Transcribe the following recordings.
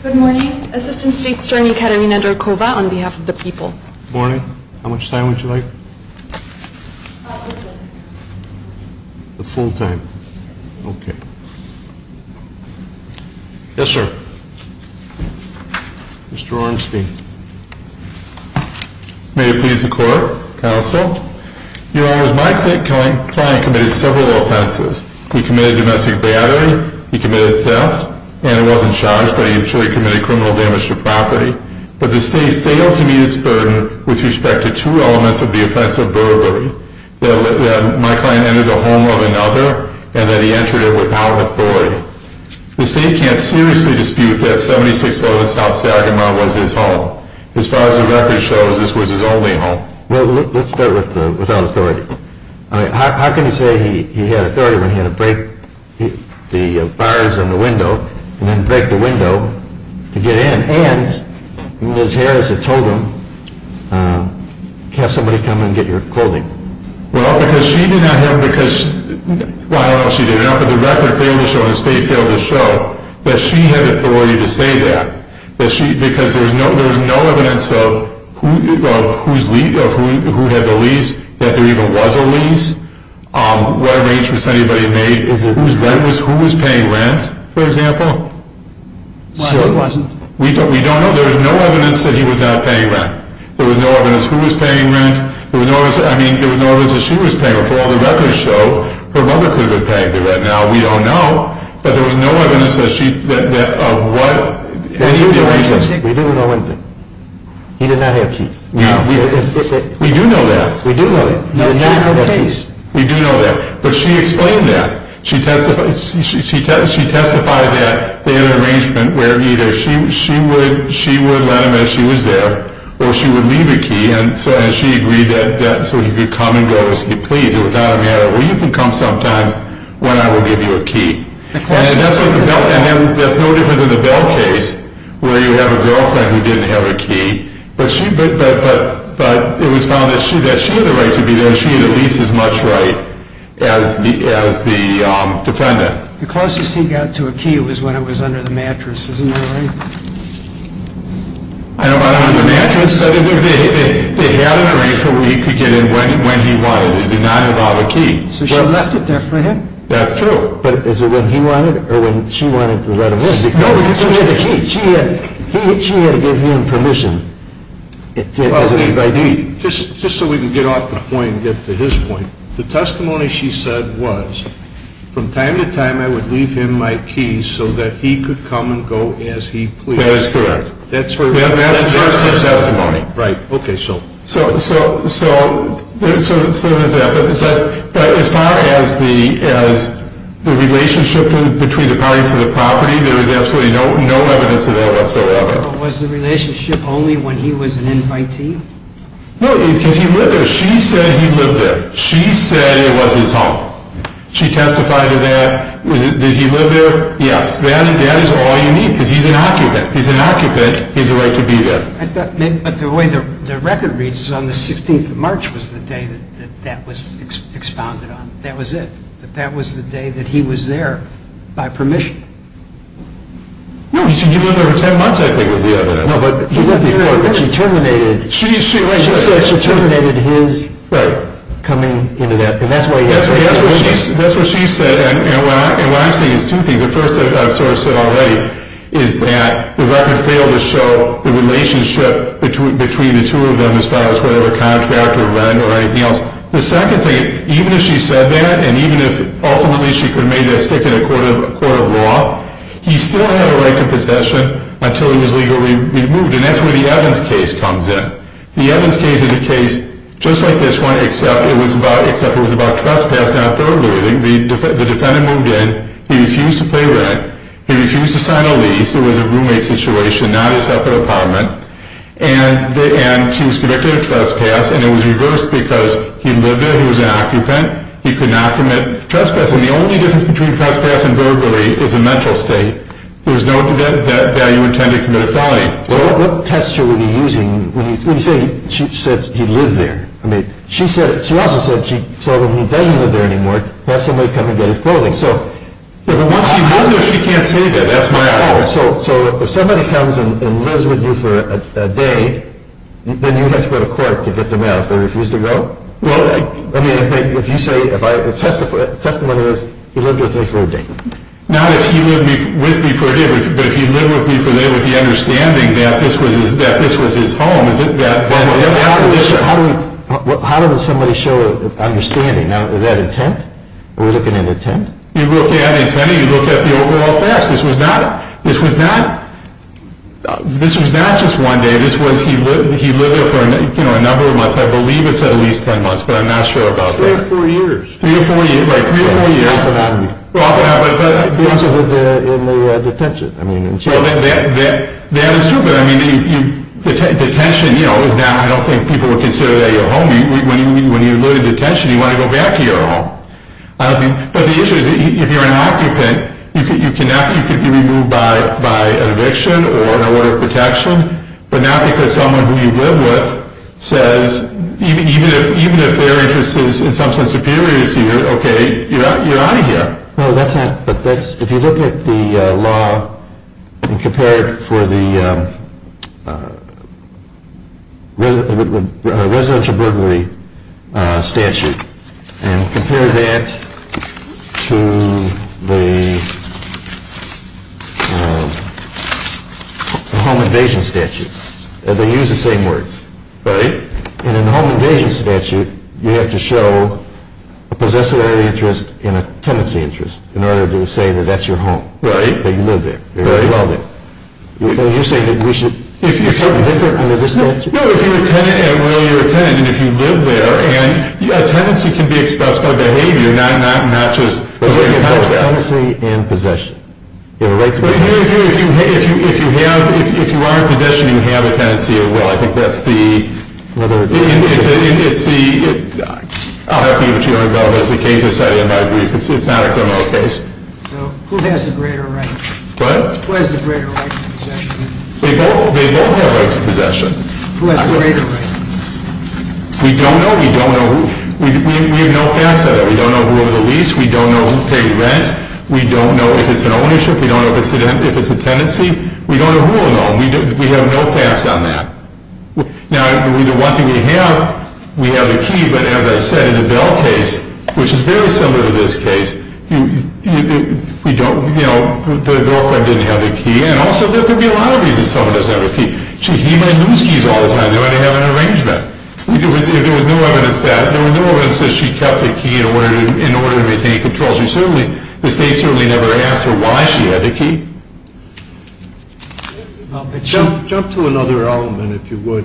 Good morning. Assistant State Steering Academy Nedarkova on behalf of the people. Good morning. How much time would you like? Full time. Okay. Yes, sir. Mr. Orenstein. May it please the Court, Counsel. Your Honor, my client committed several offenses. He committed domestic battery. He committed theft. And he wasn't charged, but I'm sure he committed criminal damage to property. But the State failed to meet its burden with respect to two elements of the offense of burglary. That my client entered the home of another and that he entered it without authority. The State can't seriously dispute that 7611 South Sagamore was his home. As far as the record shows, this was his only home. Well, let's start with without authority. How can you say he had authority when he had to break the bars on the window and then break the window to get in? And Ms. Harris had told him, have somebody come in and get your clothing. Well, because she did not have, because, well, I don't know if she did or not, but the record failed to show and the State failed to show that she had authority to say that. Because there was no evidence of who had the lease, that there even was a lease. What arrangements had anybody made? Who was paying rent, for example? Well, it wasn't. We don't know. There was no evidence that he was not paying rent. There was no evidence who was paying rent. I mean, there was no evidence that she was paying rent. For all the records show, her mother could have been paying the rent. Now, we don't know. But there was no evidence that she, of what, any of the arrangements. We do know one thing. He did not have keys. No. We do know that. We do know that. He did not have keys. We do know that. But she explained that. She testified that they had an arrangement where either she would let him as she was there or she would leave a key. And she agreed that so he could come and go as he pleased. It was not a matter of, well, you can come sometimes when I will give you a key. And that's no different than the Bell case where you have a girlfriend who didn't have a key. But it was found that she had a right to be there. She had at least as much right as the defendant. The closest he got to a key was when it was under the mattress. Isn't that right? I don't know about under the mattress. But it had an arrangement where he could get in when he wanted. It did not involve a key. So she left it there for him? That's true. But is it when he wanted or when she wanted to let him in? No, it was when she had the key. She had to give him permission. Just so we can get off the point and get to his point, the testimony she said was, from time to time I would leave him my keys so that he could come and go as he pleased. That is correct. That's her testimony. Right. Okay, so. So there's that. But as far as the relationship between the parties to the property, there is absolutely no evidence of that whatsoever. But was the relationship only when he was an invitee? No, because he lived there. She said he lived there. She said it was his home. She testified to that. Did he live there? Yes. That is all you need because he's an occupant. He's an occupant. He has a right to be there. But the way the record reads is on the 16th of March was the day that that was expounded on. That was it. That was the day that he was there by permission. No, he lived there for 10 months I think was the evidence. No, but he lived before. But she terminated. She said she terminated his coming into that. That's what she said. And what I'm saying is two things. The first I've sort of said already is that the record failed to show the relationship between the two of them as far as whether a contract or rent or anything else. The second thing is even if she said that and even if ultimately she could have made that stick in a court of law, he still had a right to possession until he was legally removed. And that's where the Evans case comes in. The Evans case is a case just like this one except it was about trespass, not burglary. The defendant moved in. He refused to pay rent. He refused to sign a lease. It was a roommate situation, not a separate apartment. And he was convicted of trespass, and it was reversed because he lived there. He was an occupant. He could not commit trespass. And the only difference between trespass and burglary is a mental state. There was no value intended committed felony. So what tests are we using when you say she said he lived there? I mean, she also said when he doesn't live there anymore, have somebody come and get his clothing. Once he lives there, she can't say that. That's my idea. So if somebody comes and lives with you for a day, then you have to go to court to get them out. If they refuse to go? Well, I mean, if you say, if I testify, the testimony is he lived with me for a day. Not if he lived with me for a day, but if he lived with me for a day, would he be understanding that this was his home? How does somebody show understanding? Now, is that intent? Are we looking at intent? You look at intent, and you look at the overall facts. This was not just one day. This was he lived there for a number of months. I believe it's at least 10 months, but I'm not sure about that. Three or four years. Three or four years. Like three or four years. Off and on. Off and on. In the detention. That is true. But I mean, detention, you know, I don't think people would consider that your home. When you live in detention, you want to go back to your home. But the issue is, if you're an occupant, you can be removed by an eviction or an order of protection, but not because someone who you live with says, even if their interest is in some sense superior to yours, okay, you're out of here. If you look at the law and compare it for the residential burglary statute, and compare that to the home invasion statute, they use the same words. Right. And in the home invasion statute, you have to show a possessory interest and a tenancy interest in order to say that that's your home. Right. That you live there. Very well, then. Are you saying that we should do something different under this statute? No, if you're a tenant, and really you're a tenant, and if you live there, and a tenancy can be expressed by behavior, not just behavior. Tenancy and possession. If you are in possession, you have a tenancy or will. I think that's the ‑‑ I'll have to give it to you on your own. It's a case of setting it by brief. It's not a criminal case. So who has the greater right? What? Who has the greater right to possession? They both have rights to possession. Who has the greater right? We don't know. We don't know. We have no facts on that. We don't know who owned the lease. We don't know who paid rent. We don't know if it's an ownership. We don't know if it's a tenancy. We don't know who owned it. We have no facts on that. Now, the one thing we have, we have the key. But as I said, in the Bell case, which is very similar to this case, you know, the girlfriend didn't have the key. And also there could be a lot of reasons someone doesn't have the key. She might lose keys all the time. They might have an arrangement. There was no evidence that. There was no evidence that she kept the key in order to maintain control. The state certainly never asked her why she had the key. Jump to another element, if you would.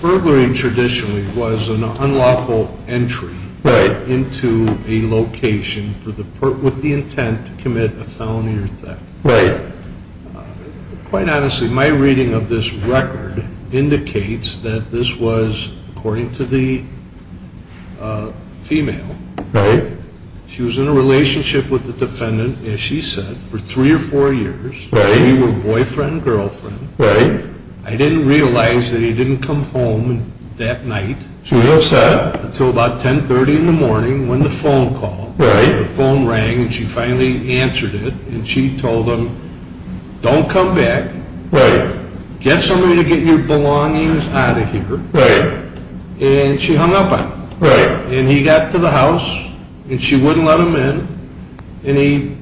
Burglary traditionally was an unlawful entry into a location with the intent to commit a felony or theft. Right. Quite honestly, my reading of this record indicates that this was, according to the female. Right. She was in a relationship with the defendant, as she said, for three or four years. Right. They were boyfriend and girlfriend. Right. I didn't realize that he didn't come home that night. She was upset. Until about 1030 in the morning when the phone called. Right. The phone rang, and she finally answered it. And she told him, don't come back. Right. Get somebody to get your belongings out of here. Right. And she hung up on him. Right. And he got to the house, and she wouldn't let him in. And he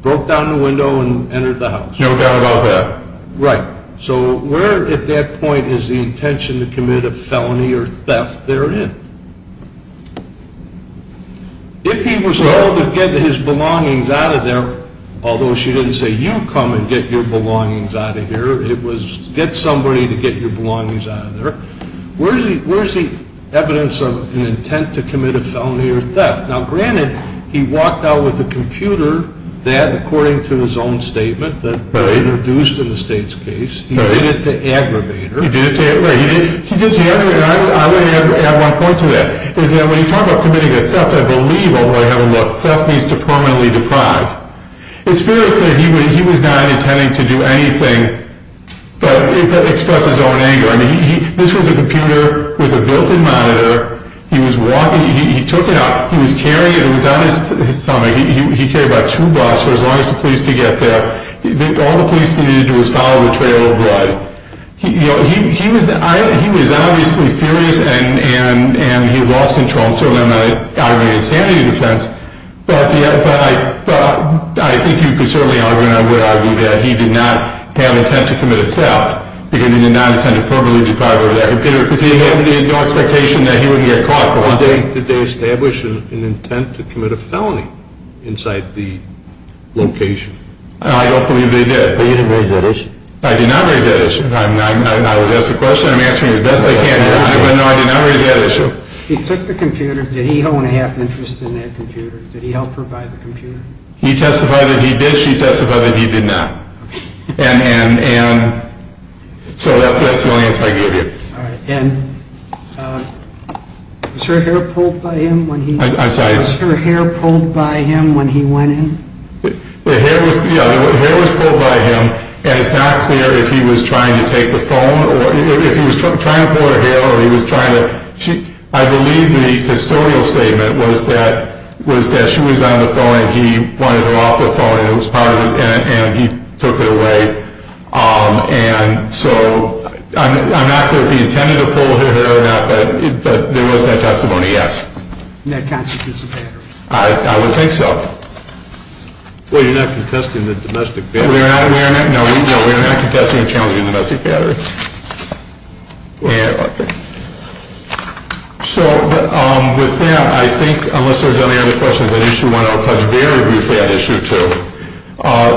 broke down the window and entered the house. No doubt about that. Right. So where at that point is the intention to commit a felony or theft therein? If he was told to get his belongings out of there, although she didn't say, you come and get your belongings out of here, it was get somebody to get your belongings out of there. Where is the evidence of an intent to commit a felony or theft? Now, granted, he walked out with a computer that, according to his own statement, that introduced in the state's case, he did it to aggravate her. He did it to aggravate her. I want to add one point to that. When you talk about committing a theft, I believe, although I haven't looked, theft means to permanently deprive. It's very clear he was not intending to do anything but express his own anger. I mean, this was a computer with a built-in monitor. He was walking. He took it out. He was carrying it. It was on his stomach. He carried about two blocks for as long as the police could get there. All the police needed to do was follow the trail of blood. He was obviously furious, and he lost control. And certainly, I'm not arguing insanity defense. But I think you could certainly argue, and I would argue, that he did not have intent to commit a theft because he did not intend to permanently deprive her of that computer because he had no expectation that he would get caught for one day. Did they establish an intent to commit a felony inside the location? I don't believe they did. But you didn't raise that issue? I did not raise that issue. I'm not going to ask a question. I'm answering as best I can. No, I did not raise that issue. He took the computer. Did he own a half interest in that computer? Did he help her buy the computer? He testified that he did. She testified that he did not. And so that's the only answer I can give you. All right. And was her hair pulled by him when he went in? Her hair was pulled by him, and it's not clear if he was trying to take the phone or if he was trying to pull her hair. I believe the custodial statement was that she was on the phone, and he wanted her off the phone. It was part of it, and he took it away. And so I'm not clear if he intended to pull her hair or not, but there was that testimony, yes. And that constitutes a battery? I would think so. Well, you're not contesting the domestic battery. No, we are not contesting or challenging the domestic battery. Okay. So with that, I think, unless there's any other questions on Issue 1, and I'll touch very briefly on Issue 2,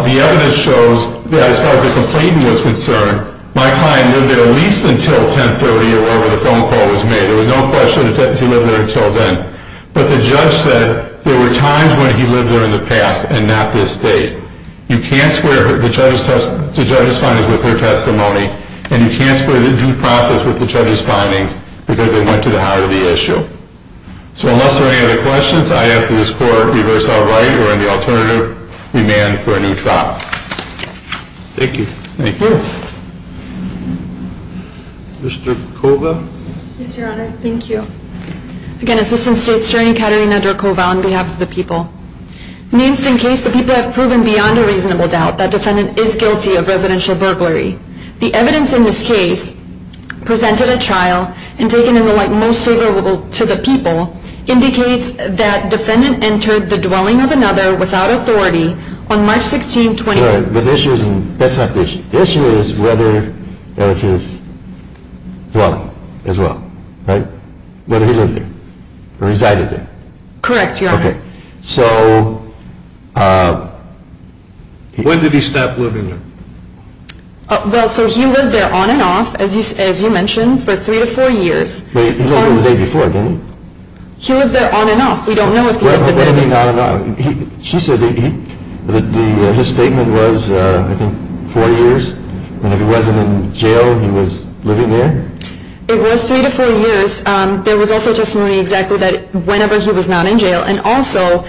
the evidence shows that as far as the complainant was concerned, my client lived there at least until 1030, or whenever the phone call was made. There was no question that he lived there until then. But the judge said there were times when he lived there in the past and not this date. You can't square the judge's findings with her testimony, and you can't square the due process with the judge's findings, because they went to the heart of the issue. So unless there are any other questions, I ask that this Court reverse all right or any alternative, demand for a new trial. Thank you. Thank you. Mr. Kova. Yes, Your Honor. Thank you. Again, Assistant State Attorney Katarina Dracova on behalf of the people. In the instant case, the people have proven beyond a reasonable doubt The evidence in this case presented at trial and taken in the light most favorable to the people indicates that defendant entered the dwelling of another without authority on March 16, 2018. But the issue isn't, that's not the issue. The issue is whether that was his dwelling as well, right? Whether he lived there or resided there. Correct, Your Honor. Okay. So when did he stop living there? Well, so he lived there on and off, as you mentioned, for three to four years. But he lived there the day before, didn't he? He lived there on and off. We don't know if he lived there the day before. What do you mean on and off? She said that his statement was, I think, four years, and if he wasn't in jail, he was living there? It was three to four years. There was also testimony exactly that whenever he was not in jail, and also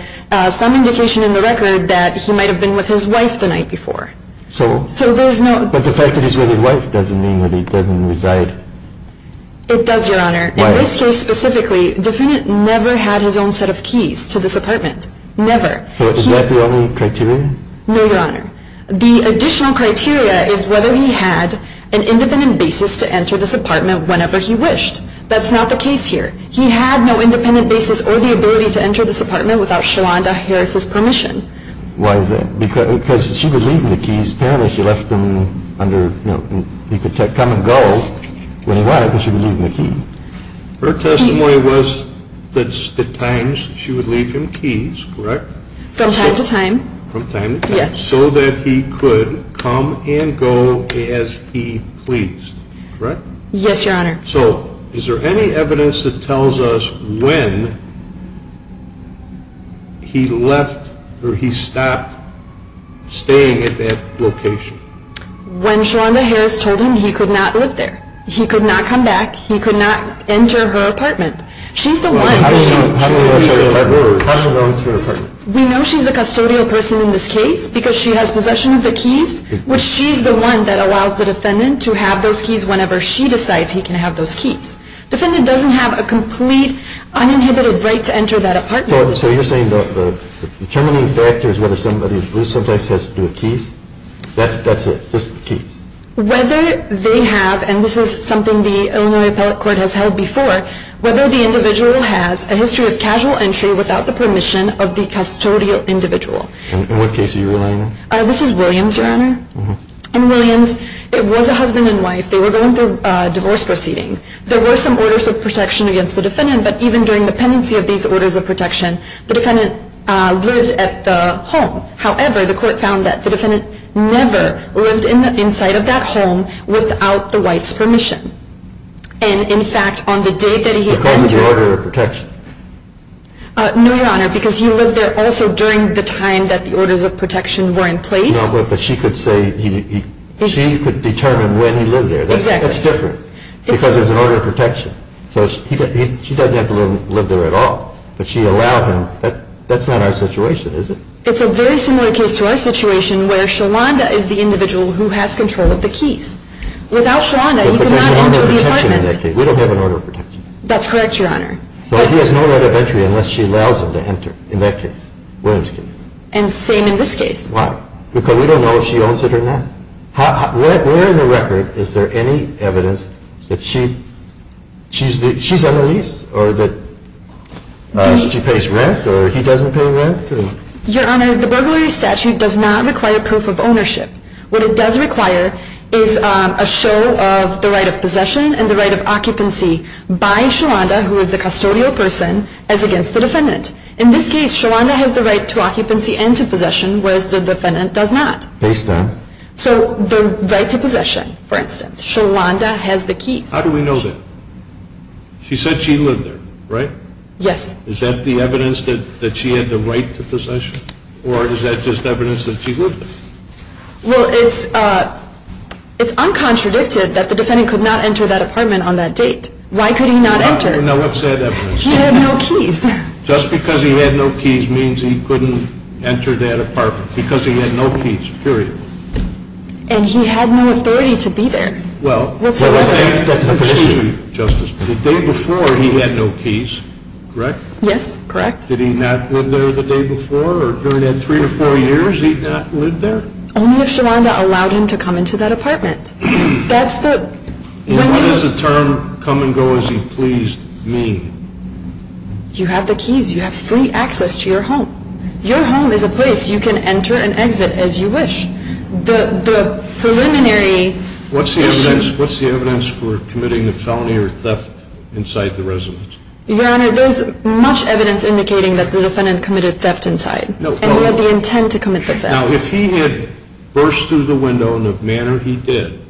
some indication in the record that he might have been with his wife the night before. So? But the fact that he's with his wife doesn't mean that he doesn't reside. It does, Your Honor. Why? In this case specifically, defendant never had his own set of keys to this apartment. Never. So is that the only criteria? No, Your Honor. The additional criteria is whether he had an independent basis to enter this apartment whenever he wished. That's not the case here. He had no independent basis or the ability to enter this apartment without Shalonda Harris's permission. Why is that? Because she was leaving the keys. Apparently she left them under, you know, he could come and go when he wanted because she was leaving the key. Her testimony was that at times she would leave him keys, correct? From time to time. From time to time. Yes. So that he could come and go as he pleased, correct? Yes, Your Honor. So is there any evidence that tells us when he left or he stopped staying at that location? When Shalonda Harris told him he could not live there. He could not come back. He could not enter her apartment. She's the one. How do we know that's her apartment? We know she's the custodial person in this case because she has possession of the keys, which she's the one that allows the defendant to have those keys whenever she decides he can have those keys. Defendant doesn't have a complete uninhibited right to enter that apartment. So you're saying the determining factor is whether somebody who's loose sometimes has to do with keys? That's it? Just keys? Whether they have, and this is something the Illinois Appellate Court has held before, whether the individual has a history of casual entry without the permission of the custodial individual. In what case are you relying on? This is Williams, Your Honor. In Williams, it was a husband and wife. They were going through a divorce proceeding. There were some orders of protection against the defendant, but even during the pendency of these orders of protection, the defendant lived at the home. However, the court found that the defendant never lived inside of that home without the wife's permission. And, in fact, on the day that he entered the home. Because of the order of protection? No, Your Honor, because he lived there also during the time that the orders of protection were in place. No, but she could say, she could determine when he lived there. Exactly. That's different because there's an order of protection. So she doesn't have to live there at all, but she allowed him. That's not our situation, is it? It's a very similar case to our situation where Sholanda is the individual who has control of the keys. Without Sholanda, you could not enter the apartment. But there's an order of protection in that case. We don't have an order of protection. That's correct, Your Honor. So he has no right of entry unless she allows him to enter in that case, William's case. And same in this case. Why? Because we don't know if she owns it or not. Where in the record is there any evidence that she's a lease or that she pays rent or he doesn't pay rent? Your Honor, the burglary statute does not require proof of ownership. What it does require is a show of the right of possession and the right of occupancy by Sholanda, who is the custodial person, as against the defendant. In this case, Sholanda has the right to occupancy and to possession, whereas the defendant does not. Based on? So the right to possession, for instance. Sholanda has the keys. How do we know that? She said she lived there, right? Yes. Is that the evidence that she had the right to possession? Or is that just evidence that she lived there? Well, it's uncontradicted that the defendant could not enter that apartment on that date. Why could he not enter? Now, what's that evidence? He had no keys. Just because he had no keys means he couldn't enter that apartment because he had no keys, period. And he had no authority to be there. Well, excuse me, Justice. The day before, he had no keys, correct? Yes, correct. Did he not live there the day before? Or during that three or four years, he did not live there? Only if Sholanda allowed him to come into that apartment. That's the – And what does the term, come and go as he pleased, mean? You have the keys. You have free access to your home. Your home is a place you can enter and exit as you wish. The preliminary – What's the evidence for committing a felony or theft inside the residence? Your Honor, there's much evidence indicating that the defendant committed theft inside. And he had the intent to commit the theft. Now, if he had burst through the window in the manner he did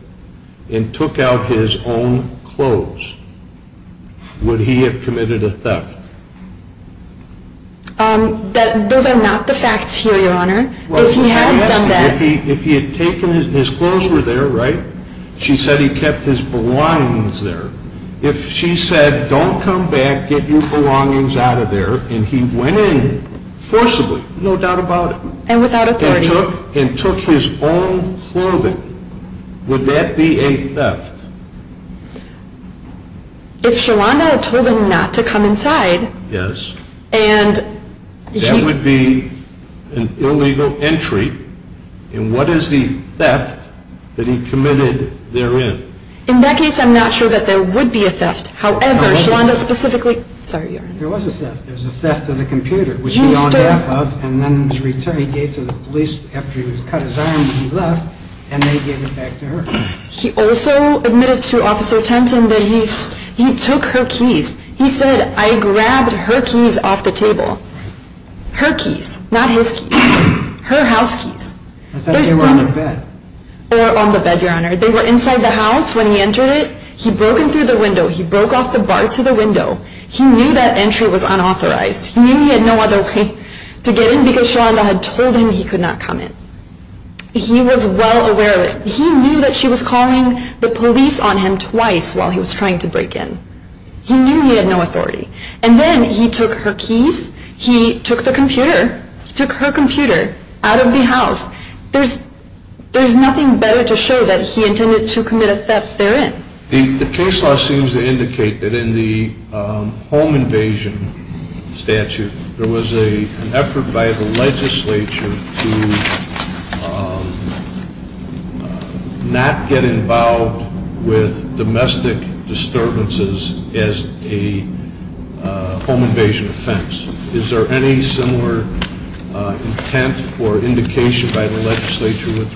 and took out his own clothes, would he have committed a theft? Those are not the facts here, Your Honor. If he had done that – If he had taken – his clothes were there, right? She said he kept his blinds there. If she said, don't come back, get your belongings out of there, and he went in forcibly, no doubt about it – And without authority. And took his own clothing, would that be a theft? If Sholanda had told him not to come inside – Yes. And he – That would be an illegal entry. And what is the theft that he committed therein? In that case, I'm not sure that there would be a theft. However, Sholanda specifically – Sorry, Your Honor. There was a theft. There was a theft of the computer, which he owned half of, and then he gave to the police after he cut his arm and he left, and they gave it back to her. He also admitted to Officer Tenton that he took her keys. He said, I grabbed her keys off the table. Her keys, not his keys. Her house keys. I thought they were on the bed. They were on the bed, Your Honor. They were inside the house when he entered it. He broke in through the window. He broke off the bar to the window. He knew that entry was unauthorized. He knew he had no other way to get in because Sholanda had told him he could not come in. He was well aware of it. He knew that she was calling the police on him twice while he was trying to break in. He knew he had no authority. And then he took her keys. He took the computer. He took her computer out of the house. There's nothing better to show that he intended to commit a theft therein. The case law seems to indicate that in the home invasion statute, there was an effort by the legislature to not get involved with domestic disturbances as a home invasion offense. Is there any similar intent or indication by the legislature with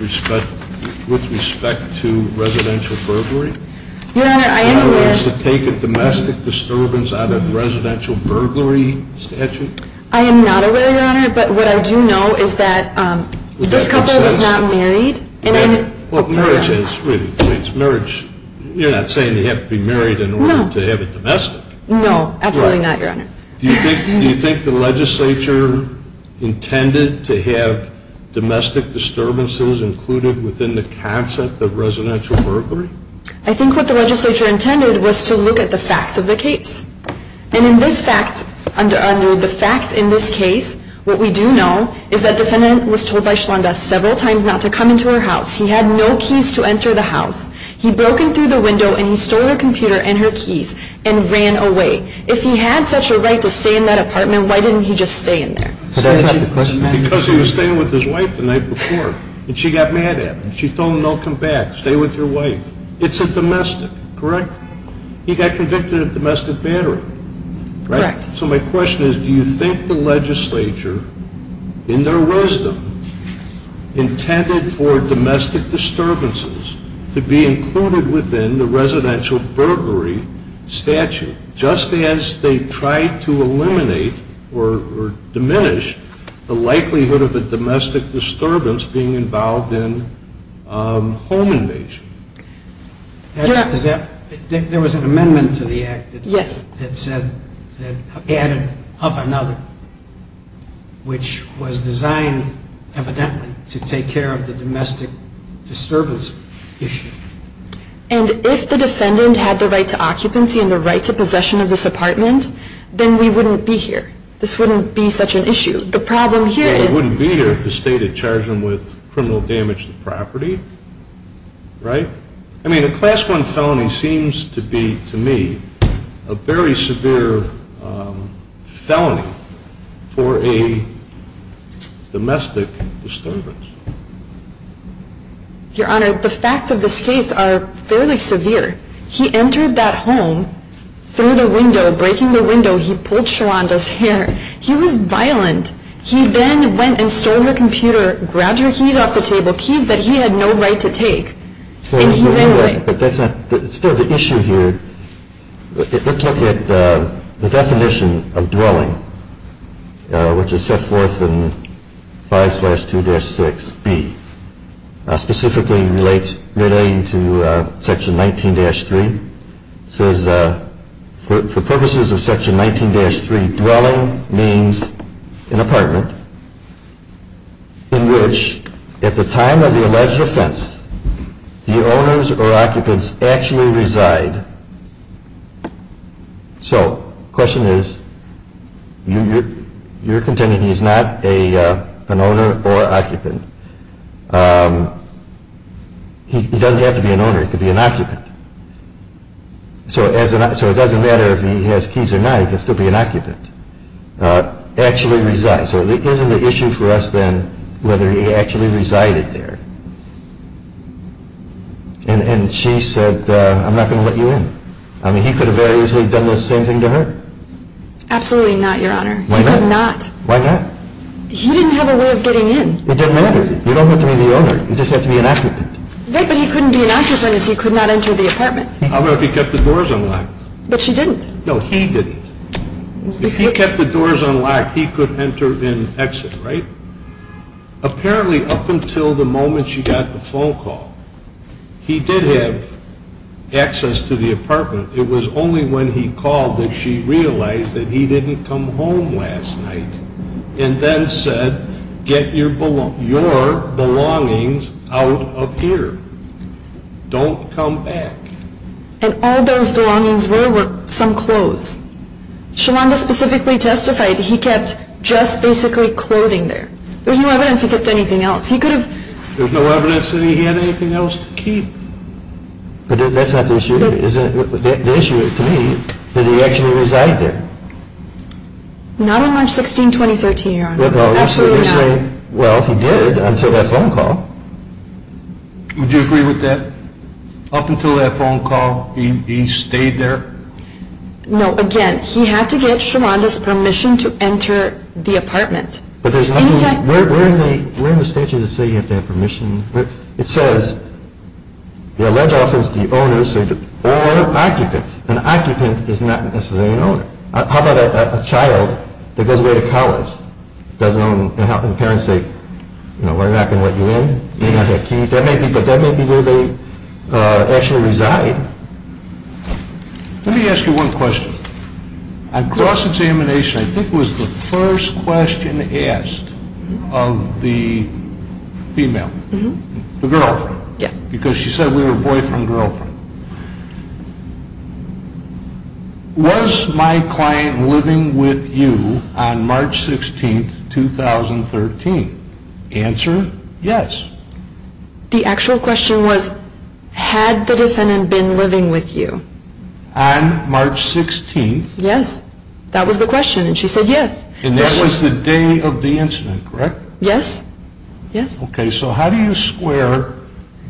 respect to residential burglary? Your Honor, I am aware. In other words, to take a domestic disturbance out of a residential burglary statute? I am not aware, Your Honor. But what I do know is that this couple was not married. Marriage is. Marriage, you're not saying they have to be married in order to have it domestic. No, absolutely not, Your Honor. Do you think the legislature intended to have domestic disturbances included within the concept of residential burglary? I think what the legislature intended was to look at the facts of the case. And in this fact, under the facts in this case, what we do know is that the defendant was told by Shlonda several times not to come into her house. He had no keys to enter the house. He broke in through the window and he stole her computer and her keys and ran away. If he had such a right to stay in that apartment, why didn't he just stay in there? Because he was staying with his wife the night before. And she got mad at him. She told him, don't come back. Stay with your wife. It's a domestic, correct? He got convicted of domestic battery. Correct. So my question is, do you think the legislature, in their wisdom, intended for domestic disturbances to be included within the residential burglary statute, just as they tried to eliminate or diminish the likelihood of a domestic disturbance being involved in home invasion? Yes. There was an amendment to the act that added of another, which was designed evidently to take care of the domestic disturbance issue. And if the defendant had the right to occupancy and the right to possession of this apartment, then we wouldn't be here. This wouldn't be such an issue. The problem here is- Well, they wouldn't be here if the state had charged them with criminal damage to the property, right? I mean, a Class I felony seems to be, to me, a very severe felony for a domestic disturbance. Your Honor, the facts of this case are fairly severe. He entered that home through the window. Breaking the window, he pulled Shalanda's hair. He was violent. He then went and stole her computer, grabbed her keys off the table, keys that he had no right to take. And he's angry. But that's not the issue here. Let's look at the definition of dwelling, which is set forth in 5-2-6B, specifically relating to Section 19-3. It says, for purposes of Section 19-3, dwelling means an apartment in which, at the time of the alleged offense, the owners or occupants actually reside. So the question is, you're contending he's not an owner or occupant. He doesn't have to be an owner. He could be an occupant. So it doesn't matter if he has keys or not. He can still be an occupant. So it isn't an issue for us then whether he actually resided there. And she said, I'm not going to let you in. I mean, he could have very easily done the same thing to her. Absolutely not, Your Honor. He could not. Why not? He didn't have a way of getting in. It doesn't matter. You don't have to be the owner. You just have to be an occupant. Right, but he couldn't be an occupant if he could not enter the apartment. I don't know if he kept the doors unlocked. But she didn't. No, he didn't. If he kept the doors unlocked, he could enter and exit, right? Apparently, up until the moment she got the phone call, he did have access to the apartment. It was only when he called that she realized that he didn't come home last night and then said, get your belongings out of here. Don't come back. And all those belongings were were some clothes. Shalonda specifically testified he kept just basically clothing there. There's no evidence he kept anything else. He could have. There's no evidence that he had anything else to keep. But that's not the issue. The issue is to me that he actually resided there. Not on March 16, 2013, Your Honor. Absolutely not. Well, he did until that phone call. Would you agree with that? Up until that phone call, he stayed there? No. Again, he had to get Shalonda's permission to enter the apartment. But there's nothing. We're in the statute that says you have to have permission. But it says the alleged offender is the owner or occupant. An occupant is not necessarily an owner. How about a child that goes away to college and the parents say, we're not going to let you in. You may not have keys. But that may be where they actually reside. Let me ask you one question. On cross-examination, I think it was the first question asked of the female, the girlfriend. Yes. Because she said we were boyfriend-girlfriend. Was my client living with you on March 16, 2013? Answer? Yes. The actual question was, had the defendant been living with you? On March 16th. Yes. That was the question. And she said yes. And that was the day of the incident, correct? Yes. Yes. Okay. So how do you square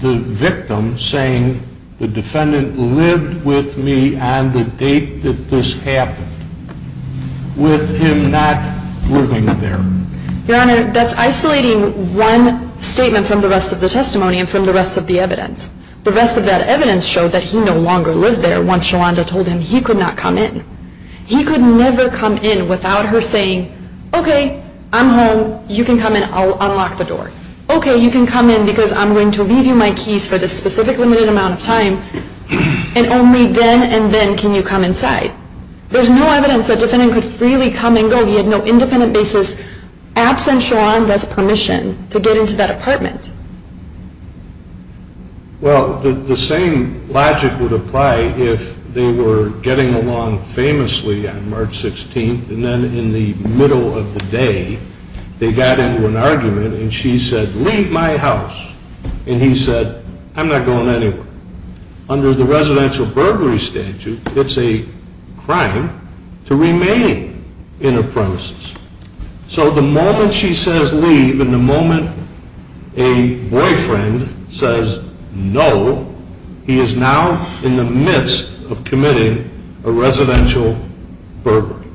the victim saying the defendant lived with me on the date that this happened with him not living there? Your Honor, that's isolating one statement from the rest of the testimony and from the rest of the evidence. The rest of that evidence showed that he no longer lived there once Sholanda told him he could not come in. He could never come in without her saying, okay, I'm home. You can come in. I'll unlock the door. Okay, you can come in because I'm going to leave you my keys for this specific limited amount of time. And only then and then can you come inside. There's no evidence that the defendant could freely come and go. He had no independent basis absent Sholanda's permission to get into that apartment. Well, the same logic would apply if they were getting along famously on March 16th and then in the middle of the day they got into an argument and she said, leave my house. And he said, I'm not going anywhere. Under the residential burglary statute, it's a crime to remain in a premises. So the moment she says leave and the moment a boyfriend says no, he is now in the midst of committing a residential burglary.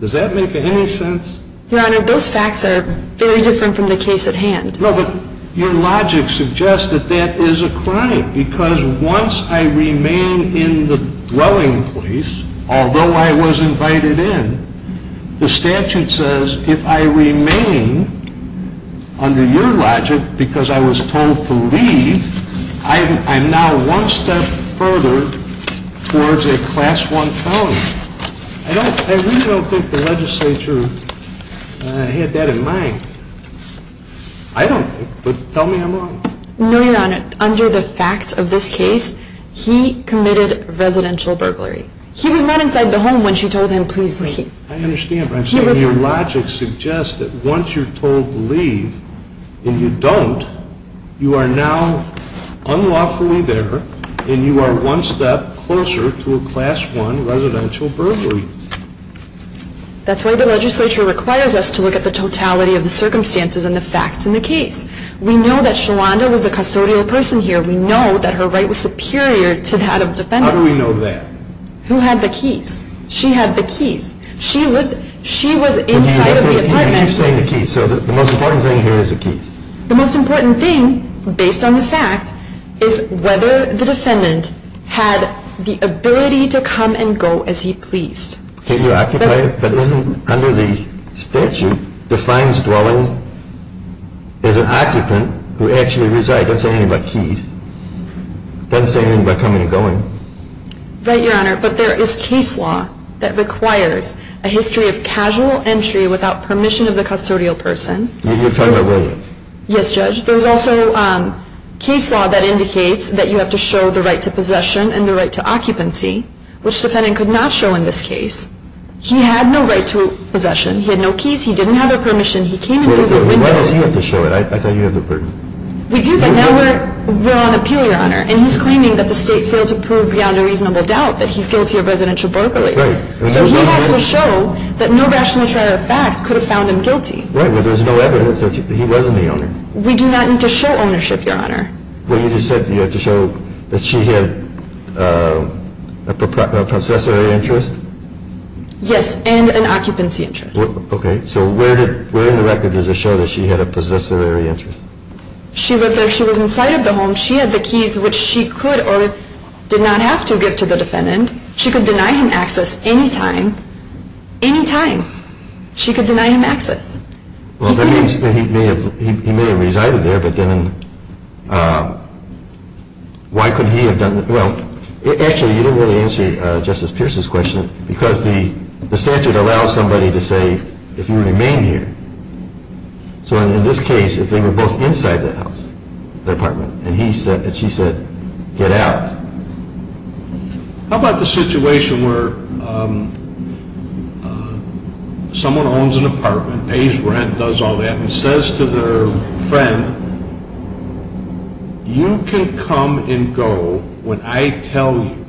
Does that make any sense? Your Honor, those facts are very different from the case at hand. No, but your logic suggests that that is a crime because once I remain in the dwelling place, although I was invited in, the statute says if I remain under your logic because I was told to leave, I'm now one step further towards a class one felony. I really don't think the legislature had that in mind. I don't, but tell me I'm wrong. No, Your Honor. Under the facts of this case, he committed residential burglary. He was not inside the home when she told him, please leave. I understand, but I'm saying your logic suggests that once you're told to leave and you don't, you are now unlawfully there and you are one step closer to a class one residential burglary. That's why the legislature requires us to look at the totality of the circumstances and the facts in the case. We know that Shawanda was the custodial person here. We know that her right was superior to that of the defendant. How do we know that? Who had the keys? She had the keys. She was inside of the apartment. So the most important thing here is the keys. The most important thing, based on the facts, is whether the defendant had the ability to come and go as he pleased. Can you occupy it? But isn't under the statute defines dwelling as an occupant who actually resides. It doesn't say anything about keys. It doesn't say anything about coming and going. Right, Your Honor, but there is case law that requires a history of casual entry without permission of the custodial person. You're talking about William. Yes, Judge. There's also case law that indicates that you have to show the right to possession and the right to occupancy, which the defendant could not show in this case. He had no right to possession. He had no keys. He didn't have a permission. He came in through the windows. Why does he have to show it? I thought you had the permission. We do, but now we're on appeal, Your Honor, and he's claiming that the state failed to prove beyond a reasonable doubt that he's guilty of residential burglary. Right. So he has to show that no rational trial of fact could have found him guilty. Right, but there's no evidence that he wasn't the owner. We do not need to show ownership, Your Honor. Well, you just said you had to show that she had a possessory interest? Yes, and an occupancy interest. Okay. So where in the record does it show that she had a possessory interest? She lived there. She was inside of the home. She had the keys, which she could or did not have to give to the defendant. She could deny him access any time, any time. She could deny him access. Well, that means that he may have resided there, but then why couldn't he have done that? Well, actually, you didn't really answer Justice Pierce's question because the statute allows somebody to say if you remain here. So in this case, if they were both inside the house, the apartment, and she said, get out. How about the situation where someone owns an apartment, pays rent, does all that, and says to their friend, you can come and go when I tell you.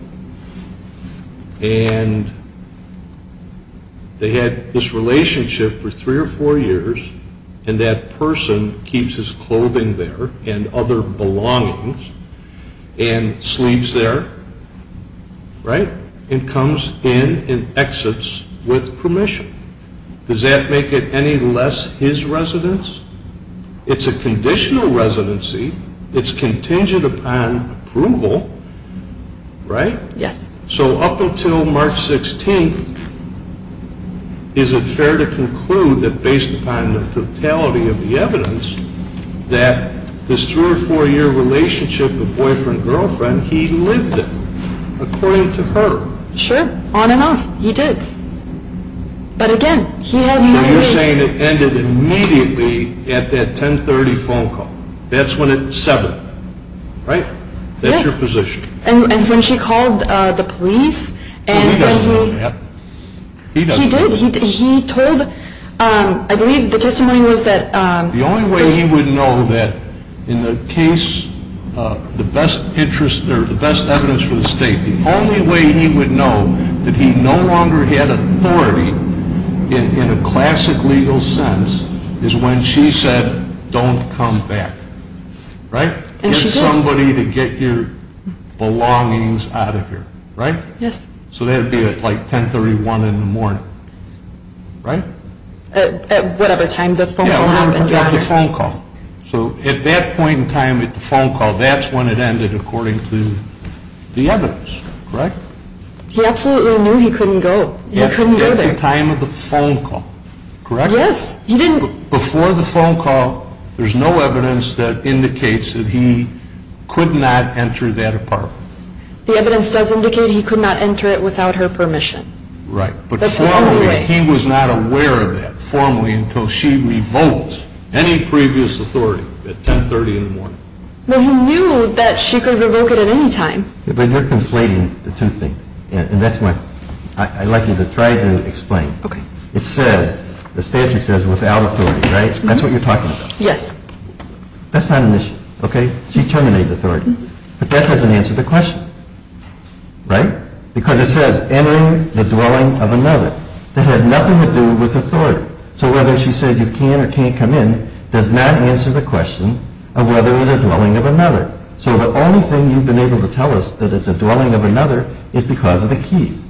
And they had this relationship for three or four years, and that person keeps his clothing there and other belongings and sleeves there, right, and comes in and exits with permission. Does that make it any less his residence? It's a conditional residency. It's contingent upon approval, right? Yes. So up until March 16th, is it fair to conclude that based upon the totality of the evidence, that this three- or four-year relationship of boyfriend-girlfriend, he lived it, according to her? Sure. On and off. He did. But again, he had not lived it. So you're saying it ended immediately at that 10.30 phone call. That's when at 7, right? Yes. That's your position. And when she called the police and when he- He doesn't know that. He did. He told, I believe the testimony was that- The only way he would know that in the case, the best evidence for the state, the only way he would know that he no longer had authority in a classic legal sense is when she said, don't come back, right? And she did. Get somebody to get your belongings out of here, right? Yes. So that would be at like 10.31 in the morning, right? At whatever time the phone call happened. Yeah, whatever time the phone call. So at that point in time at the phone call, that's when it ended according to the evidence, correct? He absolutely knew he couldn't go. He couldn't go there. At the time of the phone call, correct? Yes. Before the phone call, there's no evidence that indicates that he could not enter that apartment. The evidence does indicate he could not enter it without her permission. Right. But formally, he was not aware of that formally until she revoked any previous authority at 10.30 in the morning. Well, he knew that she could revoke it at any time. But you're conflating the two things, and that's what I'd like you to try to explain. Okay. It says, the statute says, without authority, right? That's what you're talking about. Yes. That's not an issue, okay? She terminated authority. But that doesn't answer the question, right? Because it says, entering the dwelling of another. That had nothing to do with authority. So whether she said you can or can't come in does not answer the question of whether it was a dwelling of another. So the only thing you've been able to tell us that it's a dwelling of another is because of the keys.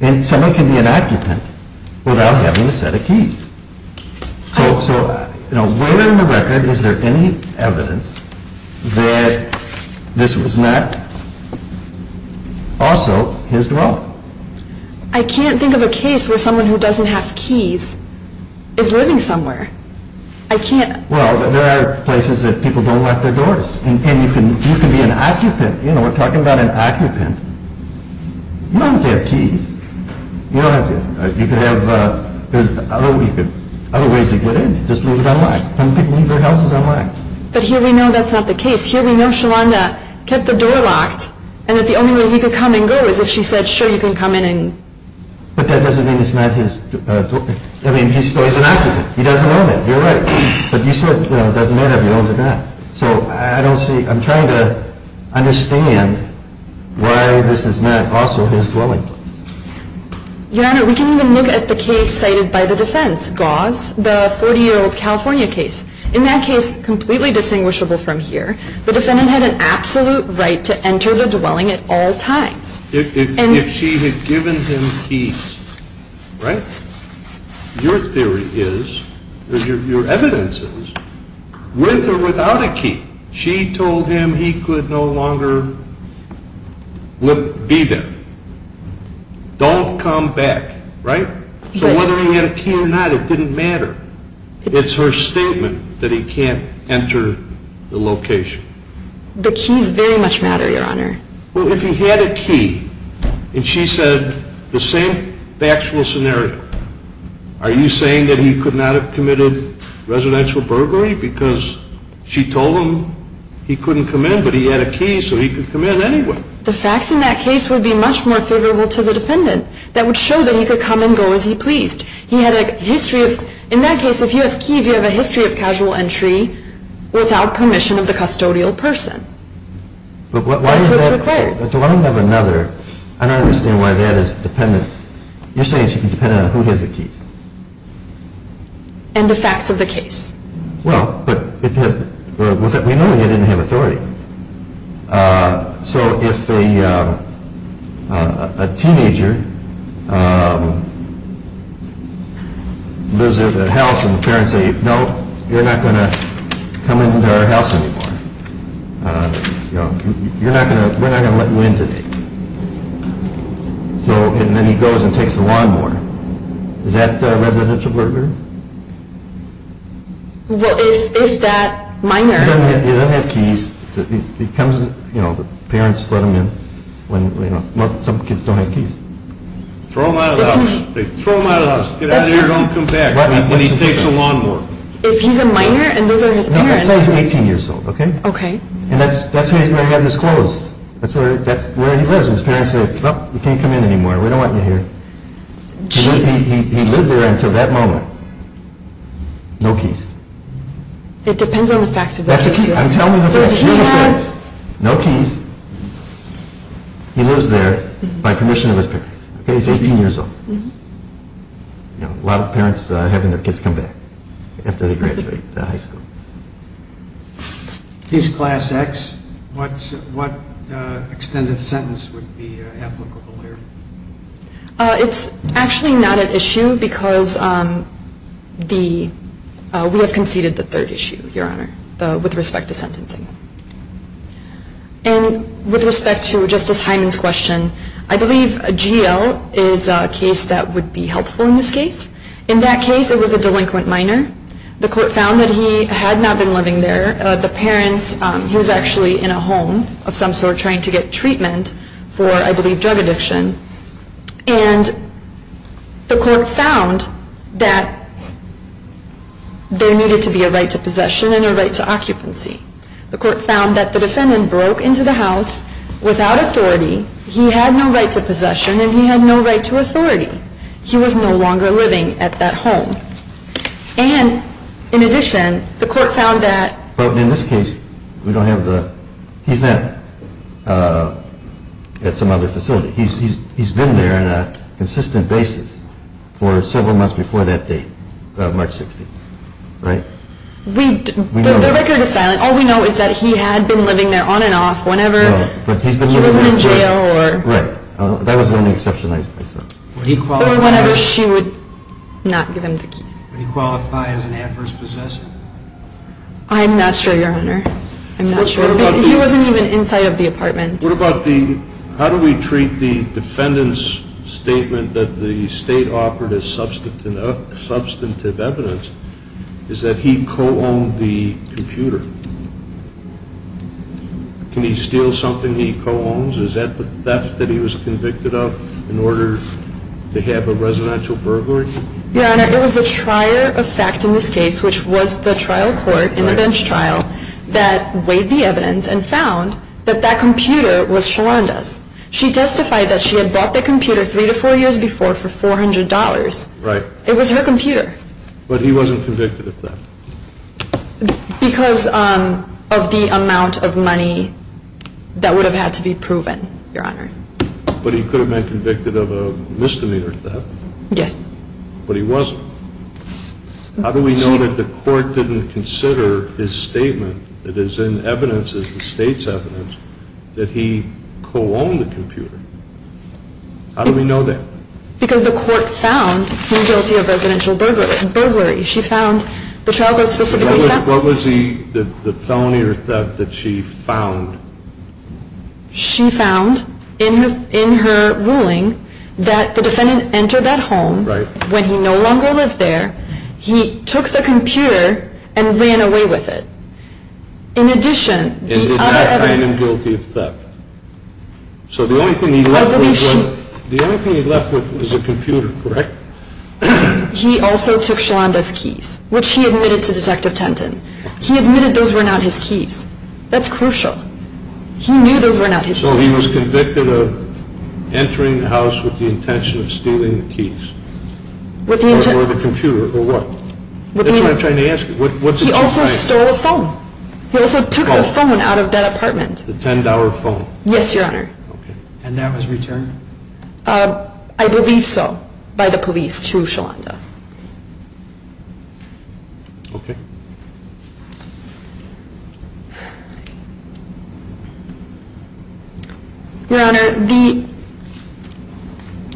And someone can be an occupant without having a set of keys. So, you know, where in the record is there any evidence that this was not also his dwelling? I can't think of a case where someone who doesn't have keys is living somewhere. I can't. Well, there are places that people don't lock their doors. And you can be an occupant. You know, we're talking about an occupant. You don't have to have keys. You don't have to. You could have other ways to get in. Just leave it unlocked. Some people leave their houses unlocked. But here we know that's not the case. Here we know Shalanda kept the door locked. And that the only way he could come and go is if she said, sure, you can come in and... But that doesn't mean it's not his... I mean, he's still an occupant. He doesn't own it. You're right. But you said, you know, it doesn't matter if he owns it or not. So I don't see... I'm trying to understand why this is not also his dwelling place. Your Honor, we can even look at the case cited by the defense, Gause, the 40-year-old California case. In that case, completely distinguishable from here, the defendant had an absolute right to enter the dwelling at all times. If she had given him keys, right? Your theory is, or your evidence is, with or without a key, she told him he could no longer be there. Don't come back, right? So whether he had a key or not, it didn't matter. It's her statement that he can't enter the location. The keys very much matter, Your Honor. Well, if he had a key, and she said the same factual scenario, are you saying that he could not have committed residential burglary because she told him he couldn't come in, but he had a key so he could come in anyway? The facts in that case would be much more favorable to the defendant. That would show that he could come and go as he pleased. He had a history of... In that case, if you have keys, you have a history of casual entry without permission of the custodial person. That's what's required. I don't understand why that is dependent. You're saying she can depend on who has the keys. And the facts of the case. Well, but we know he didn't have authority. So if a teenager lives in a house and the parents say, No, you're not going to come into our house anymore. We're not going to let you in today. And then he goes and takes the lawn mower. Is that residential burglary? Well, is that minor? He doesn't have keys. The parents let him in when some kids don't have keys. Throw him out of the house. Throw him out of the house. Get out of here. Don't come back. When he takes the lawn mower. If he's a minor and those are his parents. Let's say he's 18 years old. And that's where he has his clothes. That's where he lives. And his parents say, Well, you can't come in anymore. We don't want you here. He lived there until that moment. No keys. It depends on the facts of the case. Tell me the facts. No keys. He lives there by permission of his parents. He's 18 years old. A lot of parents having their kids come back after they graduate high school. If he's class X, what extended sentence would be applicable here? It's actually not an issue because we have conceded the third issue, Your Honor, with respect to sentencing. And with respect to Justice Hyman's question, I believe GL is a case that would be helpful in this case. In that case, it was a delinquent minor. The court found that he had not been living there. The parents, he was actually in a home of some sort trying to get treatment for, I believe, drug addiction. And the court found that there needed to be a right to possession and a right to occupancy. The court found that the defendant broke into the house without authority. He had no right to possession, and he had no right to authority. He was no longer living at that home. And, in addition, the court found that – But in this case, we don't have the – he's not at some other facility. He's been there on a consistent basis for several months before that date, March 16th, right? We – the record is silent. All we know is that he had been living there on and off whenever he wasn't in jail or – Right. That was the only exception I saw. Or whenever she would not give him the keys. Would he qualify as an adverse possessor? I'm not sure, Your Honor. I'm not sure. He wasn't even inside of the apartment. What about the – how do we treat the defendant's statement that the state offered as substantive evidence, is that he co-owned the computer? Can he steal something he co-owns? Is that the theft that he was convicted of in order to have a residential burglary? Your Honor, it was the trier of fact in this case, which was the trial court in the bench trial, that weighed the evidence and found that that computer was Shalanda's. She testified that she had bought the computer three to four years before for $400. Right. It was her computer. But he wasn't convicted of theft? Because of the amount of money that would have had to be proven, Your Honor. But he could have been convicted of a misdemeanor theft. Yes. But he wasn't. How do we know that the court didn't consider his statement that is in evidence, is the state's evidence, that he co-owned the computer? How do we know that? Because the court found him guilty of residential burglary. She found – the trial court specifically found – What was the felony or theft that she found? She found in her ruling that the defendant entered that home when he no longer lived there. He took the computer and ran away with it. In addition, the other evidence – And he found him guilty of theft. So the only thing he left with was a computer, correct? He also took Shalanda's keys, which he admitted to Detective Tenton. He admitted those were not his keys. That's crucial. He knew those were not his keys. So he was convicted of entering the house with the intention of stealing the keys. Or the computer, or what? That's what I'm trying to ask you. He also stole a phone. He also took a phone out of that apartment. A $10 phone. Yes, Your Honor. And that was returned? I believe so by the police to Shalanda. Okay. Your Honor, the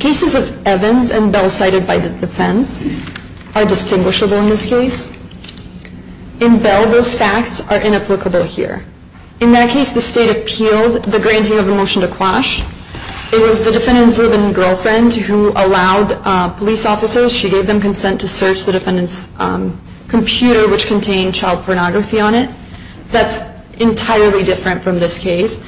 cases of Evans and Bell cited by the defense are distinguishable in this case. In Bell, those facts are inapplicable here. In that case, the State appealed the granting of a motion to quash. It was the defendant's live-in girlfriend who allowed police officers – gave them consent to search the defendant's computer, which contained child pornography on it. That's entirely different from this case.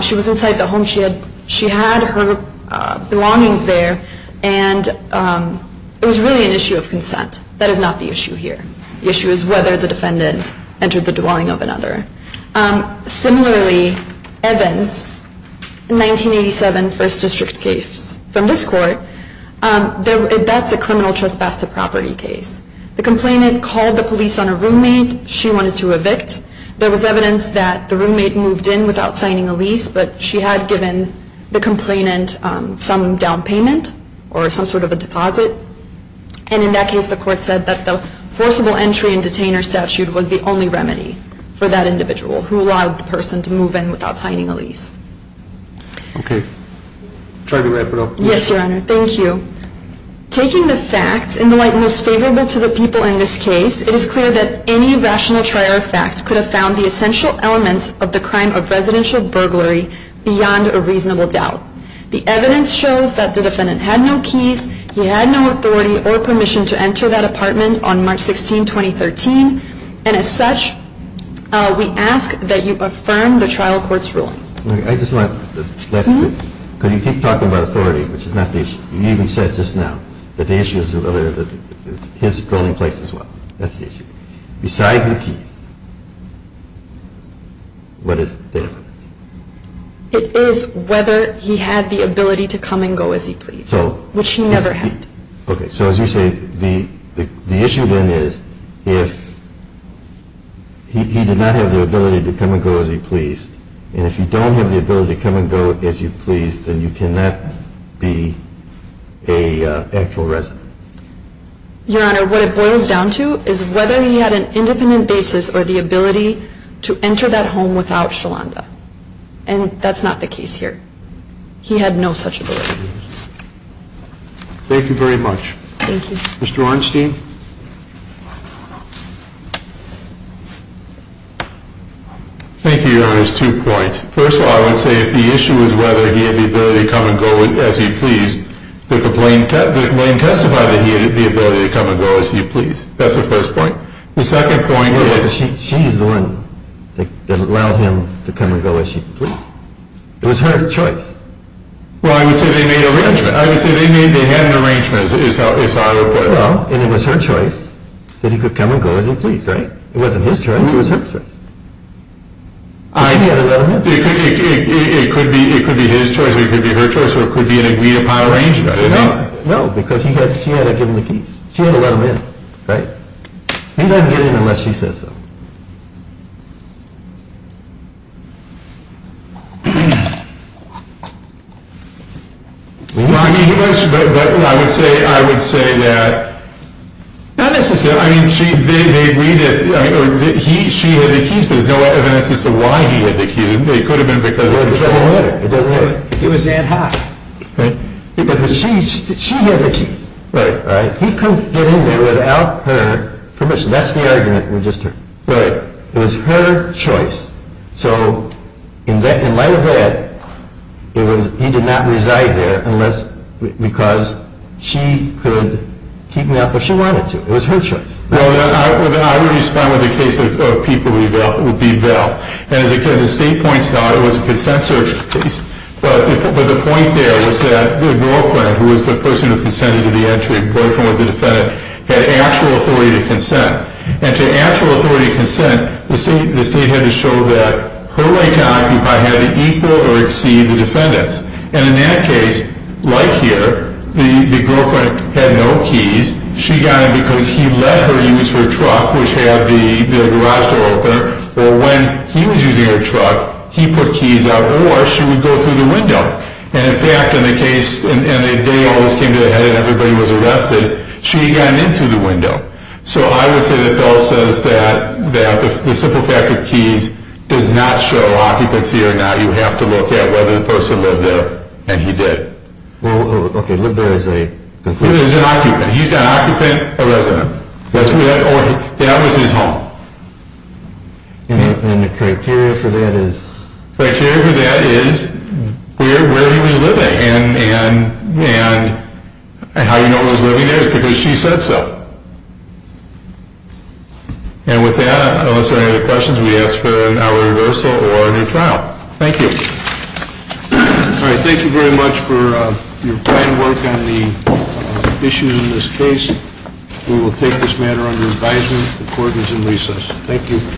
She was inside the home. She had her belongings there, and it was really an issue of consent. That is not the issue here. The issue is whether the defendant entered the dwelling of another. Similarly, Evans, 1987 First District case. From this court, that's a criminal trespass to property case. The complainant called the police on a roommate she wanted to evict. There was evidence that the roommate moved in without signing a lease, but she had given the complainant some down payment or some sort of a deposit. And in that case, the court said that the forcible entry and detainer statute was the only remedy for that individual who allowed the person to move in without signing a lease. Okay. Try to wrap it up. Yes, Your Honor. Thank you. Taking the facts in the light most favorable to the people in this case, it is clear that any rational trier of facts could have found the essential elements of the crime of residential burglary beyond a reasonable doubt. The evidence shows that the defendant had no keys. He had no authority or permission to enter that apartment on March 16, 2013. And as such, we ask that you affirm the trial court's ruling. I just want the last bit. Because you keep talking about authority, which is not the issue. You even said just now that the issue is his dwelling place as well. That's the issue. Besides the keys, what is the evidence? It is whether he had the ability to come and go as he pleased, which he never had. Okay. So as you say, the issue then is if he did not have the ability to come and go as he pleased, and if you don't have the ability to come and go as you please, then you cannot be an actual resident. Your Honor, what it boils down to is whether he had an independent basis or the ability to enter that home without Sholanda. And that's not the case here. He had no such ability. Thank you very much. Thank you. Mr. Weinstein. Thank you, Your Honor. Two points. First of all, I would say if the issue is whether he had the ability to come and go as he pleased, the complaint testified that he had the ability to come and go as he pleased. That's the first point. The second point is... Yes, she's the one that allowed him to come and go as she pleased. It was her choice. Well, I would say they made an arrangement. I would say they had an arrangement, is how I would put it. Well, and it was her choice that he could come and go as he pleased, right? It wasn't his choice. It was her choice. She had to let him in. It could be his choice or it could be her choice or it could be an agreed-upon arrangement. No, because she had to give him the keys. She had to let him in, right? He doesn't get in unless she says so. Well, I would say that not necessarily. I mean, they agreed that she had the keys, but there's no evidence as to why he had the keys. It could have been because of the choice. It doesn't matter. It doesn't matter. He was in hot. Right. She had the keys. Right. He couldn't get in there without her permission. That's the argument. Right. It was her choice. So, in light of that, he did not reside there unless because she could keep him out there if she wanted to. It was her choice. Well, then I would respond with the case of people who would be bailed. And, as you said, the state points out it was a consent search case. But the point there was that the girlfriend, who was the person who consented to the entry, the girlfriend was the defendant, had actual authority to consent. And to actual authority to consent, the state had to show that her right to occupy had to equal or exceed the defendant's. And in that case, like here, the girlfriend had no keys. She got in because he let her use her truck, which had the garage door opener. Well, when he was using her truck, he put keys out, or she would go through the window. And, in fact, in the case, in the day all this came to the head and everybody was arrested, she had gotten in through the window. So I would say that Dahl says that the simple fact of keys does not show occupancy or not. You have to look at whether the person lived there. And he did. Well, okay. Lived there is a conclusion. He was an occupant. He was an occupant, a resident. That was his home. And the criteria for that is? Criteria for that is where did he live at and how you know he was living there is because she said so. And with that, unless there are any other questions, we ask for an hour reversal or a new trial. Thank you. All right. Thank you very much for your fine work on the issues in this case. We will take this matter under advisement, recordings, and recess. Thank you.